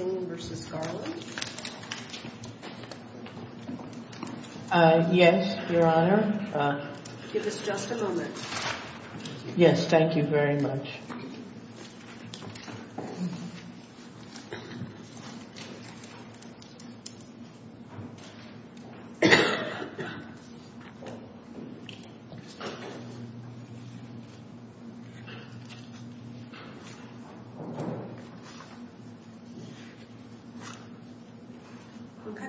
v. Garland? Yes, Your Honor. Give us just a moment. Yes, thank you very much. Okay,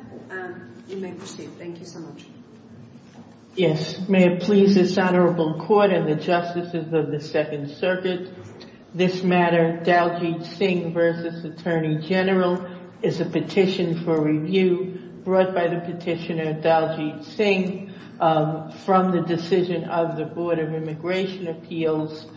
you may proceed. Thank you so much. Yes, may it please this Honorable Court and the Justices of the Second Circuit. This matter, Daljeet Singh v. Attorney General, is a petition for review brought by the petitioner Daljeet Singh from the decision of the Board of Immigration Appeals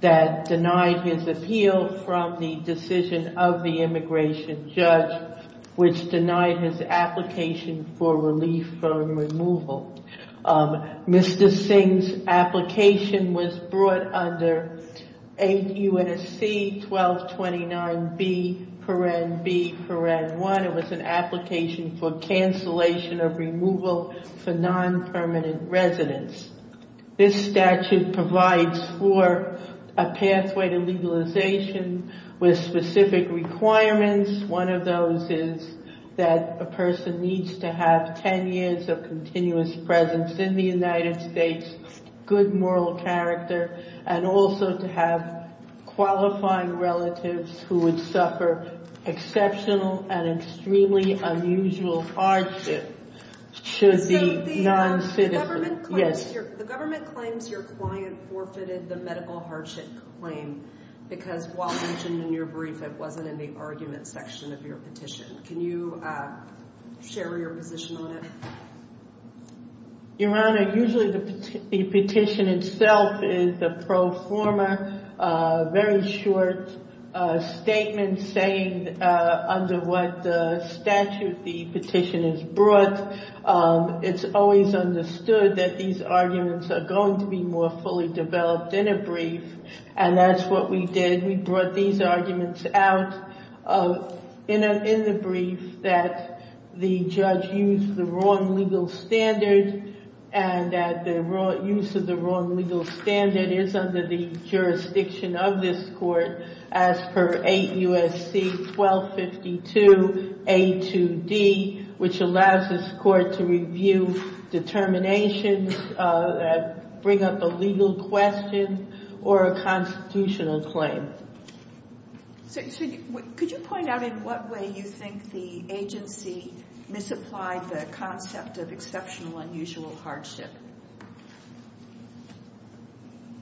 that denied his appeal from the decision of the immigration judge, which denied his application for relief from removal. Mr. Singh's application was brought under 8 U.S.C. 1229B.1. It was an application for cancellation of removal for non-permanent residents. This statute provides for a pathway to legalization with specific requirements. One of those is that a person needs to have 10 years of continuous presence in the United States, good moral character, and also to have qualifying relatives who would suffer exceptional and extremely unusual hardship to the non-citizen. The government claims your client forfeited the medical hardship claim because while mentioned in your brief, it wasn't in the argument section of your petition. Can you share your position on it? Your Honor, usually the petition itself is a pro forma, very short statement saying under what statute the petition is brought. It's always understood that these arguments are going to be more fully developed in a brief, and that's what we did. We brought these arguments out in the brief that the judge used the wrong legal standard and that the use of the wrong legal standard is under the jurisdiction of this court as per 8 U.S.C. 1252A.2.D., which allows this court to review determinations that bring up a legal question or a constitutional claim. Could you point out in what way you think the agency misapplied the concept of exceptional unusual hardship?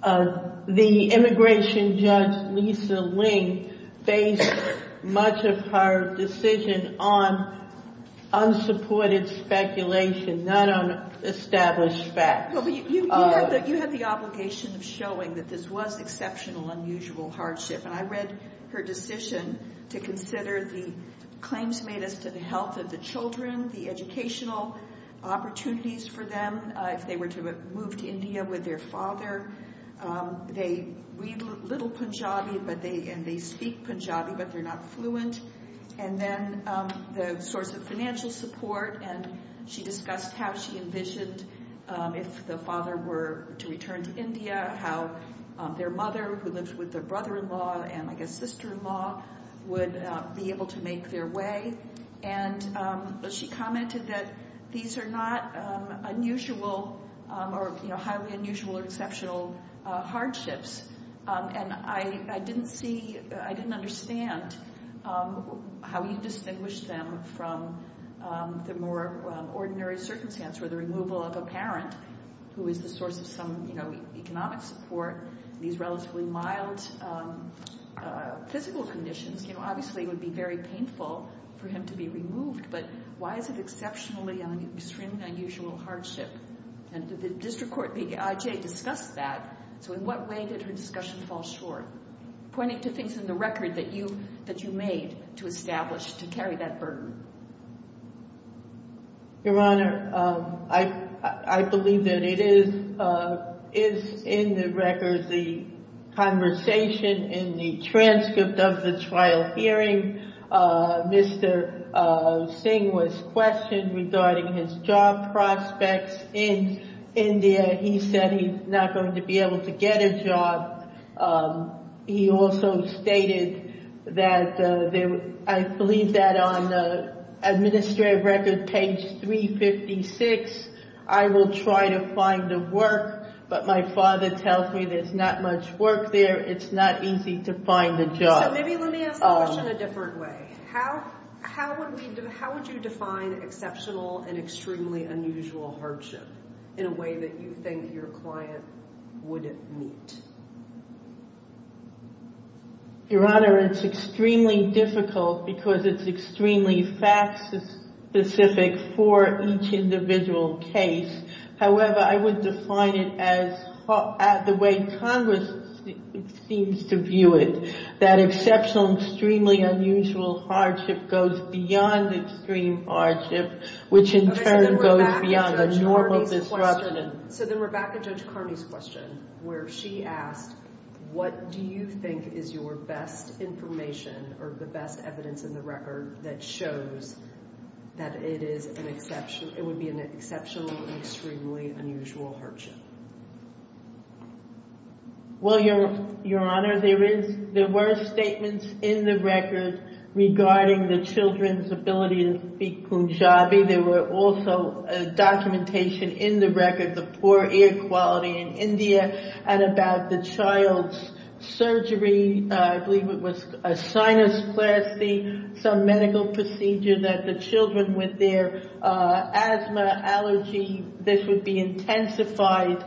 The immigration judge, Lisa Ling, based much of her decision on unsupported speculation, not on established facts. You have the obligation of showing that this was exceptional unusual hardship, and I read her decision to consider the claims made as to the health of the children, the educational opportunities for them if they were to move to India with their father. They read little Punjabi, and they speak Punjabi, but they're not fluent. And then the source of financial support, and she discussed how she envisioned if the father were to return to India how their mother, who lives with their brother-in-law and, I guess, sister-in-law, would be able to make their way. And she commented that these are not unusual or highly unusual or exceptional hardships, and I didn't understand how you distinguish them from the more ordinary circumstance where the removal of a parent who is the source of some economic support, these relatively mild physical conditions, obviously it would be very painful for him to be removed, but why is it exceptionally or extremely unusual hardship? And did the district court, the IJ, discuss that? So in what way did her discussion fall short? Pointing to things in the record that you made to establish, to carry that burden. Your Honor, I believe that it is in the record the conversation in the transcript of the trial hearing. Mr. Singh was questioned regarding his job prospects in India. He said he's not going to be able to get a job. He also stated that, I believe that on administrative record page 356, I will try to find the work, but my father tells me there's not much work there. It's not easy to find a job. So maybe let me ask the question a different way. How would you define exceptional and extremely unusual hardship in a way that you think your client wouldn't meet? Your Honor, it's extremely difficult because it's extremely fact-specific for each individual case. However, I would define it as the way Congress seems to view it, that exceptional and extremely unusual hardship goes beyond extreme hardship, which in turn goes beyond a normal disruption. So then we're back to Judge Carney's question, where she asked, what do you think is your best information or the best evidence in the record that shows that it would be an exceptional and extremely unusual hardship? Well, Your Honor, there were statements in the record regarding the children's ability to speak Punjabi. There were also documentation in the record of poor air quality in India and about the child's surgery. I believe it was a sinusplasty, some medical procedure that the children with their asthma, allergy, this would be intensified.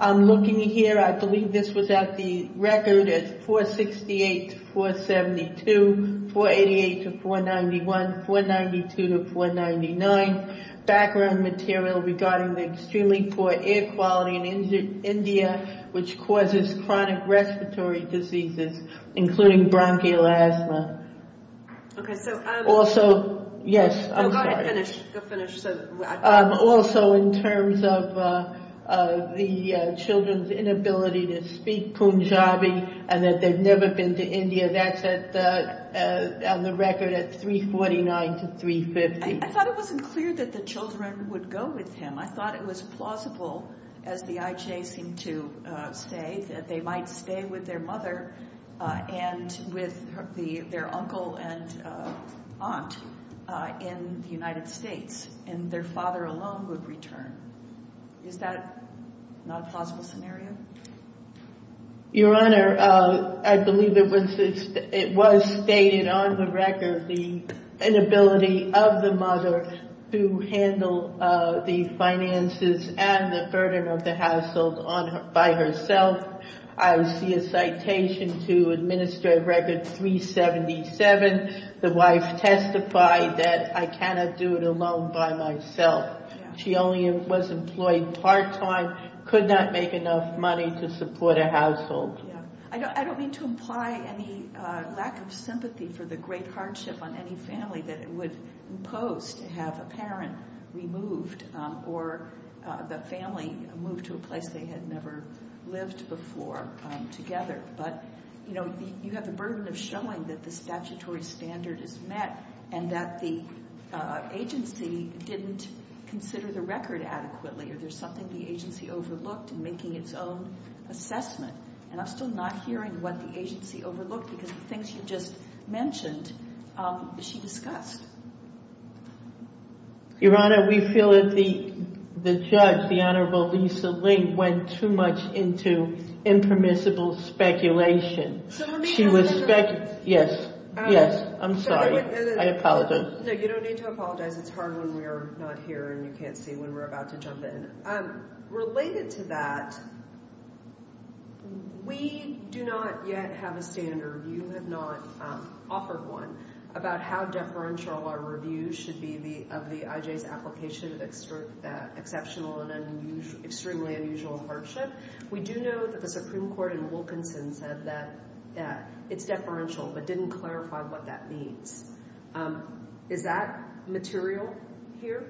I'm looking here. I believe this was at the record as 468 to 472, 488 to 491, 492 to 499. Background material regarding the extremely poor air quality in India, which causes chronic respiratory diseases, including bronchial asthma. Also, yes, I'm sorry. Go finish. Also, in terms of the children's inability to speak Punjabi and that they've never been to India, that's on the record at 349 to 350. I thought it wasn't clear that the children would go with him. I thought it was plausible, as the IJ seemed to say, that they might stay with their mother and with their uncle and aunt in the United States, and their father alone would return. Is that not a plausible scenario? Your Honor, I believe it was stated on the record the inability of the mother to handle the finances and the burden of the household by herself. I see a citation to Administrative Record 377. The wife testified that I cannot do it alone by myself. She only was employed part-time, could not make enough money to support a household. I don't mean to imply any lack of sympathy for the great hardship on any family that it would impose to have a parent removed or the family moved to a place they had never lived before together. But you have the burden of showing that the statutory standard is met and that the agency didn't consider the record adequately or there's something the agency overlooked in making its own assessment. And I'm still not hearing what the agency overlooked because the things you just mentioned, she discussed. Your Honor, we feel that the judge, the Honorable Lisa Lane, went too much into impermissible speculation. She was speculating. Yes, yes, I'm sorry. I apologize. No, you don't need to apologize. It's hard when we're not here and you can't see when we're about to jump in. Related to that, we do not yet have a standard. You have not offered one about how deferential our review should be of the IJ's application of exceptional and extremely unusual hardship. We do know that the Supreme Court in Wilkinson said that it's deferential but didn't clarify what that means. Is that material here?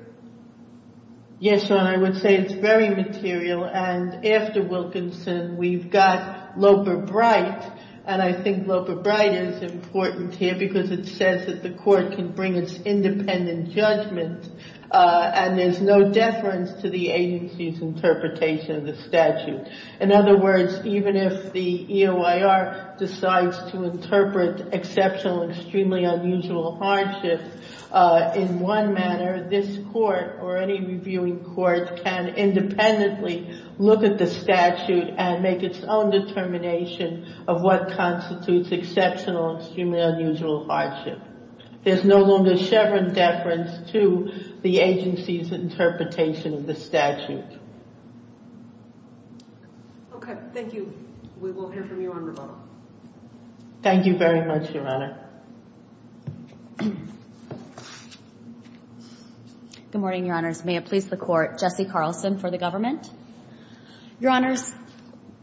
Yes, Your Honor, I would say it's very material. And after Wilkinson, we've got Loper-Bright. And I think Loper-Bright is important here because it says that the court can bring its independent judgment and there's no deference to the agency's interpretation of the statute. In other words, even if the EOIR decides to interpret exceptional and extremely unusual hardship in one manner, this court or any reviewing court can independently look at the statute and make its own determination of what constitutes exceptional and extremely unusual hardship. There's no longer a Chevron deference to the agency's interpretation of the statute. Okay, thank you. We will hear from you on rebuttal. Thank you very much, Your Honor. Good morning, Your Honors. May it please the Court, Jessie Carlson for the government. Your Honors,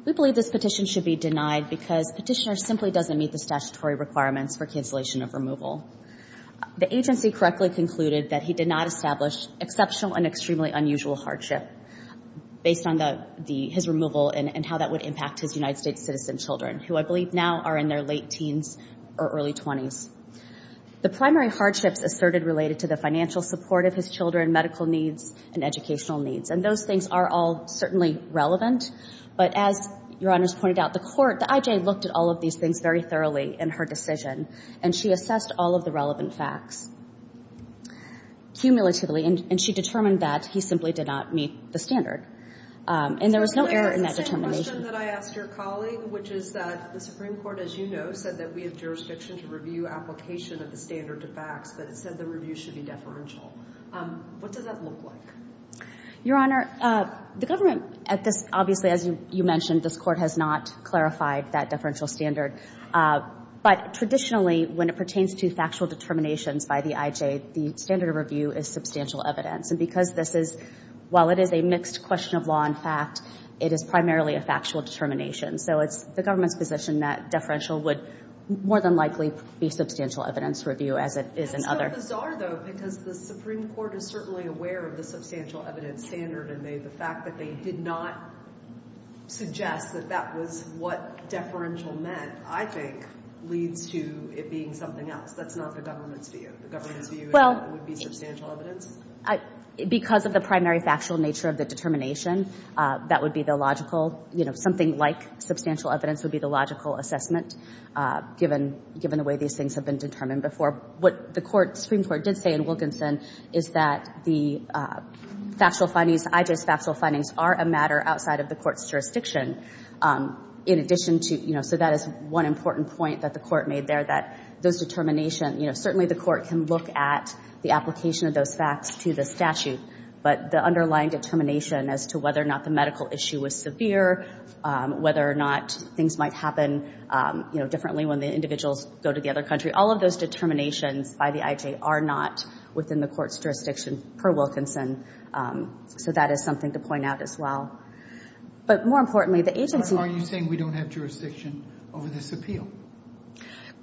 we believe this petition should be denied because Petitioner simply doesn't meet the statutory requirements for cancellation of removal. The agency correctly concluded that he did not establish exceptional and extremely unusual hardship based on his removal and how that would impact his United States citizen children, who I believe now are in their late teens or early 20s. The primary hardships asserted related to the financial support of his children, medical needs, and educational needs. And those things are all certainly relevant, but as Your Honors pointed out, the court, the IJ, looked at all of these things very thoroughly in her decision and she assessed all of the relevant facts cumulatively and she determined that he simply did not meet the standard. And there was no error in that determination. The same question that I asked your colleague, which is that the Supreme Court, as you know, said that we have jurisdiction to review application of the standard to facts, but it said the review should be deferential. What does that look like? Your Honor, the government at this, obviously, as you mentioned, this Court has not clarified that deferential standard. But traditionally, when it pertains to factual determinations by the IJ, the standard of review is substantial evidence. And because this is, while it is a mixed question of law and fact, it is primarily a factual determination. So it's the government's position that deferential would more than likely be substantial evidence review as it is in other. It's so bizarre, though, because the Supreme Court is certainly aware of the substantial evidence standard and the fact that they did not suggest that that was what deferential meant, I think, leads to it being something else. That's not the government's view. The government's view is that it would be substantial evidence? Well, because of the primary factual nature of the determination, that would be the logical, you know, something like substantial evidence would be the logical assessment, given the way these things have been determined before. What the Supreme Court did say in Wilkinson is that the factual findings, IJ's factual findings, are a matter outside of the Court's jurisdiction. In addition to, you know, So that is one important point that the Court made there, that those determinations, you know, certainly the Court can look at the application of those facts to the statute. But the underlying determination as to whether or not the medical issue was severe, whether or not things might happen, you know, differently when the individuals go to the other country, all of those determinations by the IJ are not within the Court's jurisdiction per Wilkinson. So that is something to point out as well. But more importantly, the agency... over this appeal.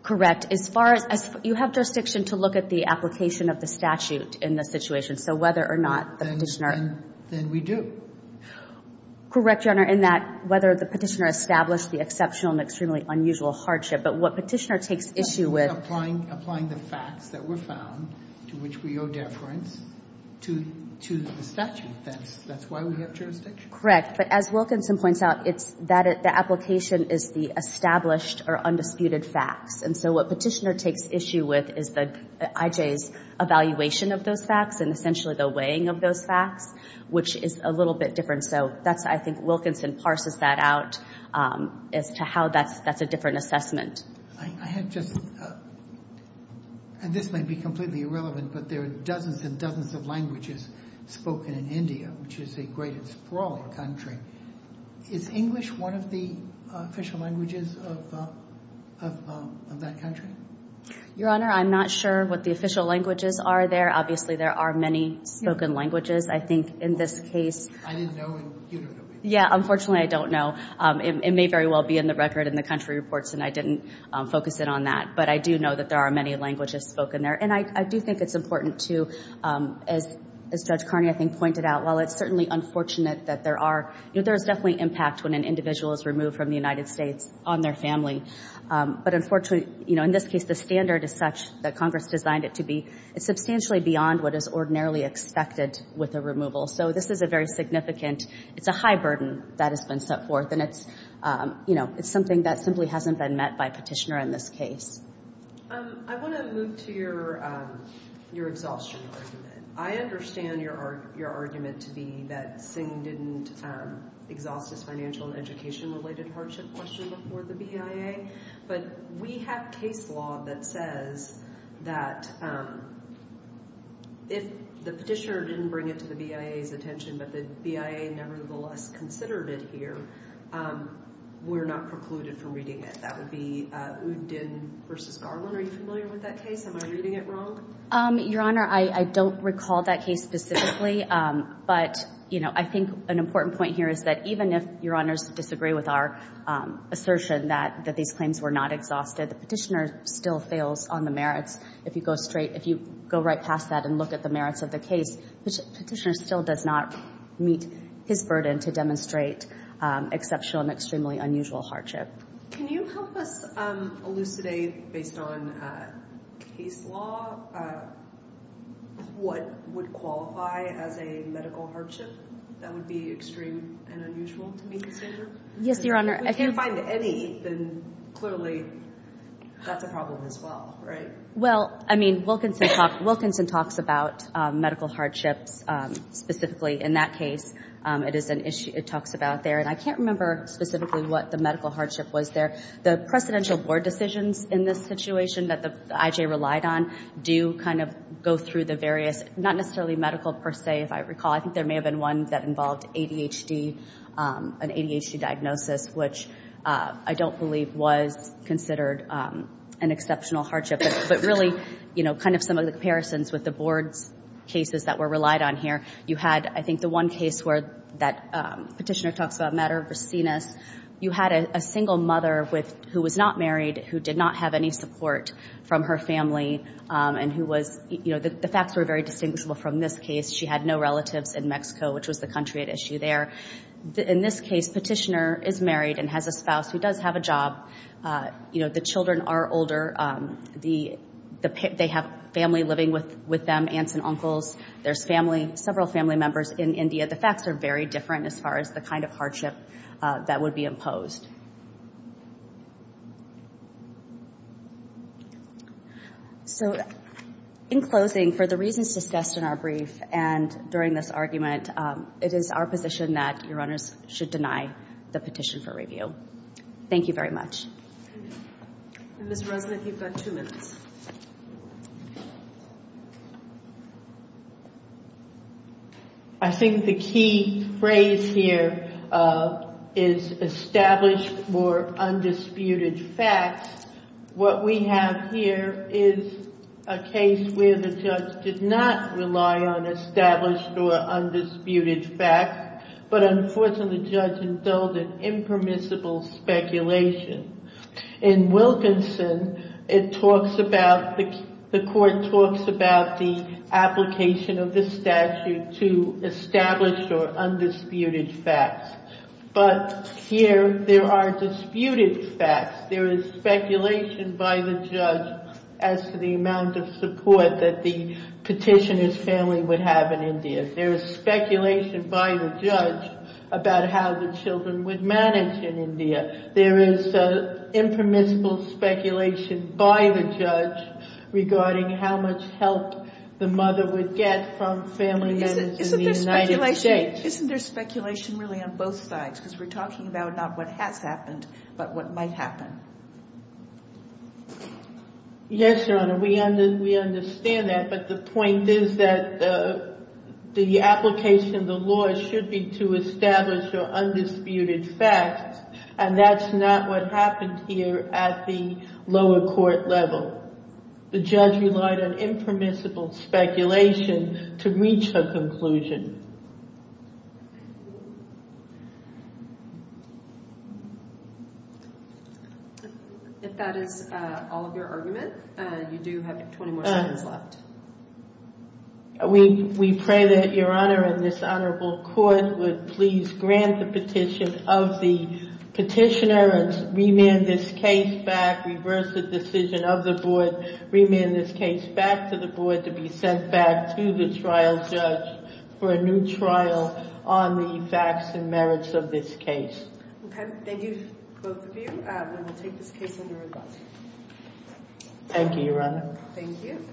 Correct. As far as you have jurisdiction to look at the application of the statute in this situation, so whether or not the Petitioner... Then we do. Correct, Your Honor, in that whether the Petitioner established the exceptional and extremely unusual hardship. But what Petitioner takes issue with... Applying the facts that were found to which we owe deference to the statute. That's why we have jurisdiction. Correct. But as Wilkinson points out, the application is the established or undisputed facts. And so what Petitioner takes issue with is the IJ's evaluation of those facts and essentially the weighing of those facts, which is a little bit different. So I think Wilkinson parses that out as to how that's a different assessment. I have just... And this might be completely irrelevant, but there are dozens and dozens of languages spoken in India, which is a great and sprawling country. Is English one of the official languages of that country? Your Honor, I'm not sure what the official languages are there. Obviously there are many spoken languages. I think in this case... I didn't know and you don't know. Yeah, unfortunately I don't know. It may very well be in the record in the country reports, and I didn't focus in on that. But I do know that there are many languages spoken there. And I do think it's important to, as Judge Carney I think pointed out, while it's certainly unfortunate that there are... There's definitely impact when an individual is removed from the United States on their family. But unfortunately, in this case, the standard is such that Congress designed it to be substantially beyond what is ordinarily expected with a removal. So this is a very significant... It's a high burden that has been set forth, and it's something that simply hasn't been met by Petitioner in this case. I want to move to your exhaustion argument. I understand your argument to be that Singh didn't exhaust his financial and education-related hardship question before the BIA. But we have case law that says that if the Petitioner didn't bring it to the BIA's attention, but the BIA nevertheless considered it here, we're not precluded from reading it. That would be Uddin v. Garland. Are you familiar with that case? Am I reading it wrong? Your Honor, I don't recall that case specifically, but I think an important point here is that even if Your Honors disagree with our assertion that these claims were not exhausted, the Petitioner still fails on the merits. If you go right past that and look at the merits of the case, the Petitioner still does not meet his burden to demonstrate exceptional and extremely unusual hardship. Can you help us elucidate, based on case law, what would qualify as a medical hardship that would be extreme and unusual to be considered? Yes, Your Honor. If you find any, then clearly that's a problem as well, right? Well, I mean, Wilkinson talks about medical hardships specifically in that case. It is an issue it talks about there. And I can't remember specifically what the medical hardship was there. The precedential board decisions in this situation that the IJ relied on do kind of go through the various, not necessarily medical per se, if I recall. I think there may have been one that involved ADHD, an ADHD diagnosis, which I don't believe was considered an exceptional hardship. But really, you know, kind of some of the comparisons with the board's cases that were relied on here, you had, I think, the one case where that Petitioner talks about a matter of raciness. You had a single mother who was not married, who did not have any support from her family, and who was, you know, the facts were very distinguishable from this case. She had no relatives in Mexico, which was the country at issue there. In this case, Petitioner is married and has a spouse who does have a job. You know, the children are older. They have family living with them, aunts and uncles. There's family, several family members in India. The facts are very different as far as the kind of hardship that would be imposed. So in closing, for the reasons discussed in our brief and during this argument, it is our position that your owners should deny the petition for review. Thank you very much. Ms. Resnick, you've got two minutes. I think the key phrase here is established or undisputed facts. What we have here is a case where the judge did not rely on established or undisputed facts, but unfortunately the judge indulged in impermissible speculation. In Wilkinson, the court talks about the application of the statute to established or undisputed facts. But here, there are disputed facts. There is speculation by the judge as to the amount of support that the Petitioner's family would have in India. There is speculation by the judge about how the children would manage in India. There is impermissible speculation by the judge regarding how much help the mother would get from family members in the United States. Isn't there speculation really on both sides? Because we're talking about not what has happened, but what might happen. Yes, Your Honor, we understand that, but the point is that the application of the law should be to established or undisputed facts, and that's not what happened here at the lower court level. The judge relied on impermissible speculation to reach her conclusion. If that is all of your argument, you do have 20 more seconds left. We pray that Your Honor and this honorable court would please grant the petition of the Petitioner and remand this case back, reverse the decision of the board, remand this case back to the board to be sent back to the trial judge for a new trial on the facts and merits of this case. Thank you to both of you, and I will take this case under review. Thank you, Your Honor. Thank you.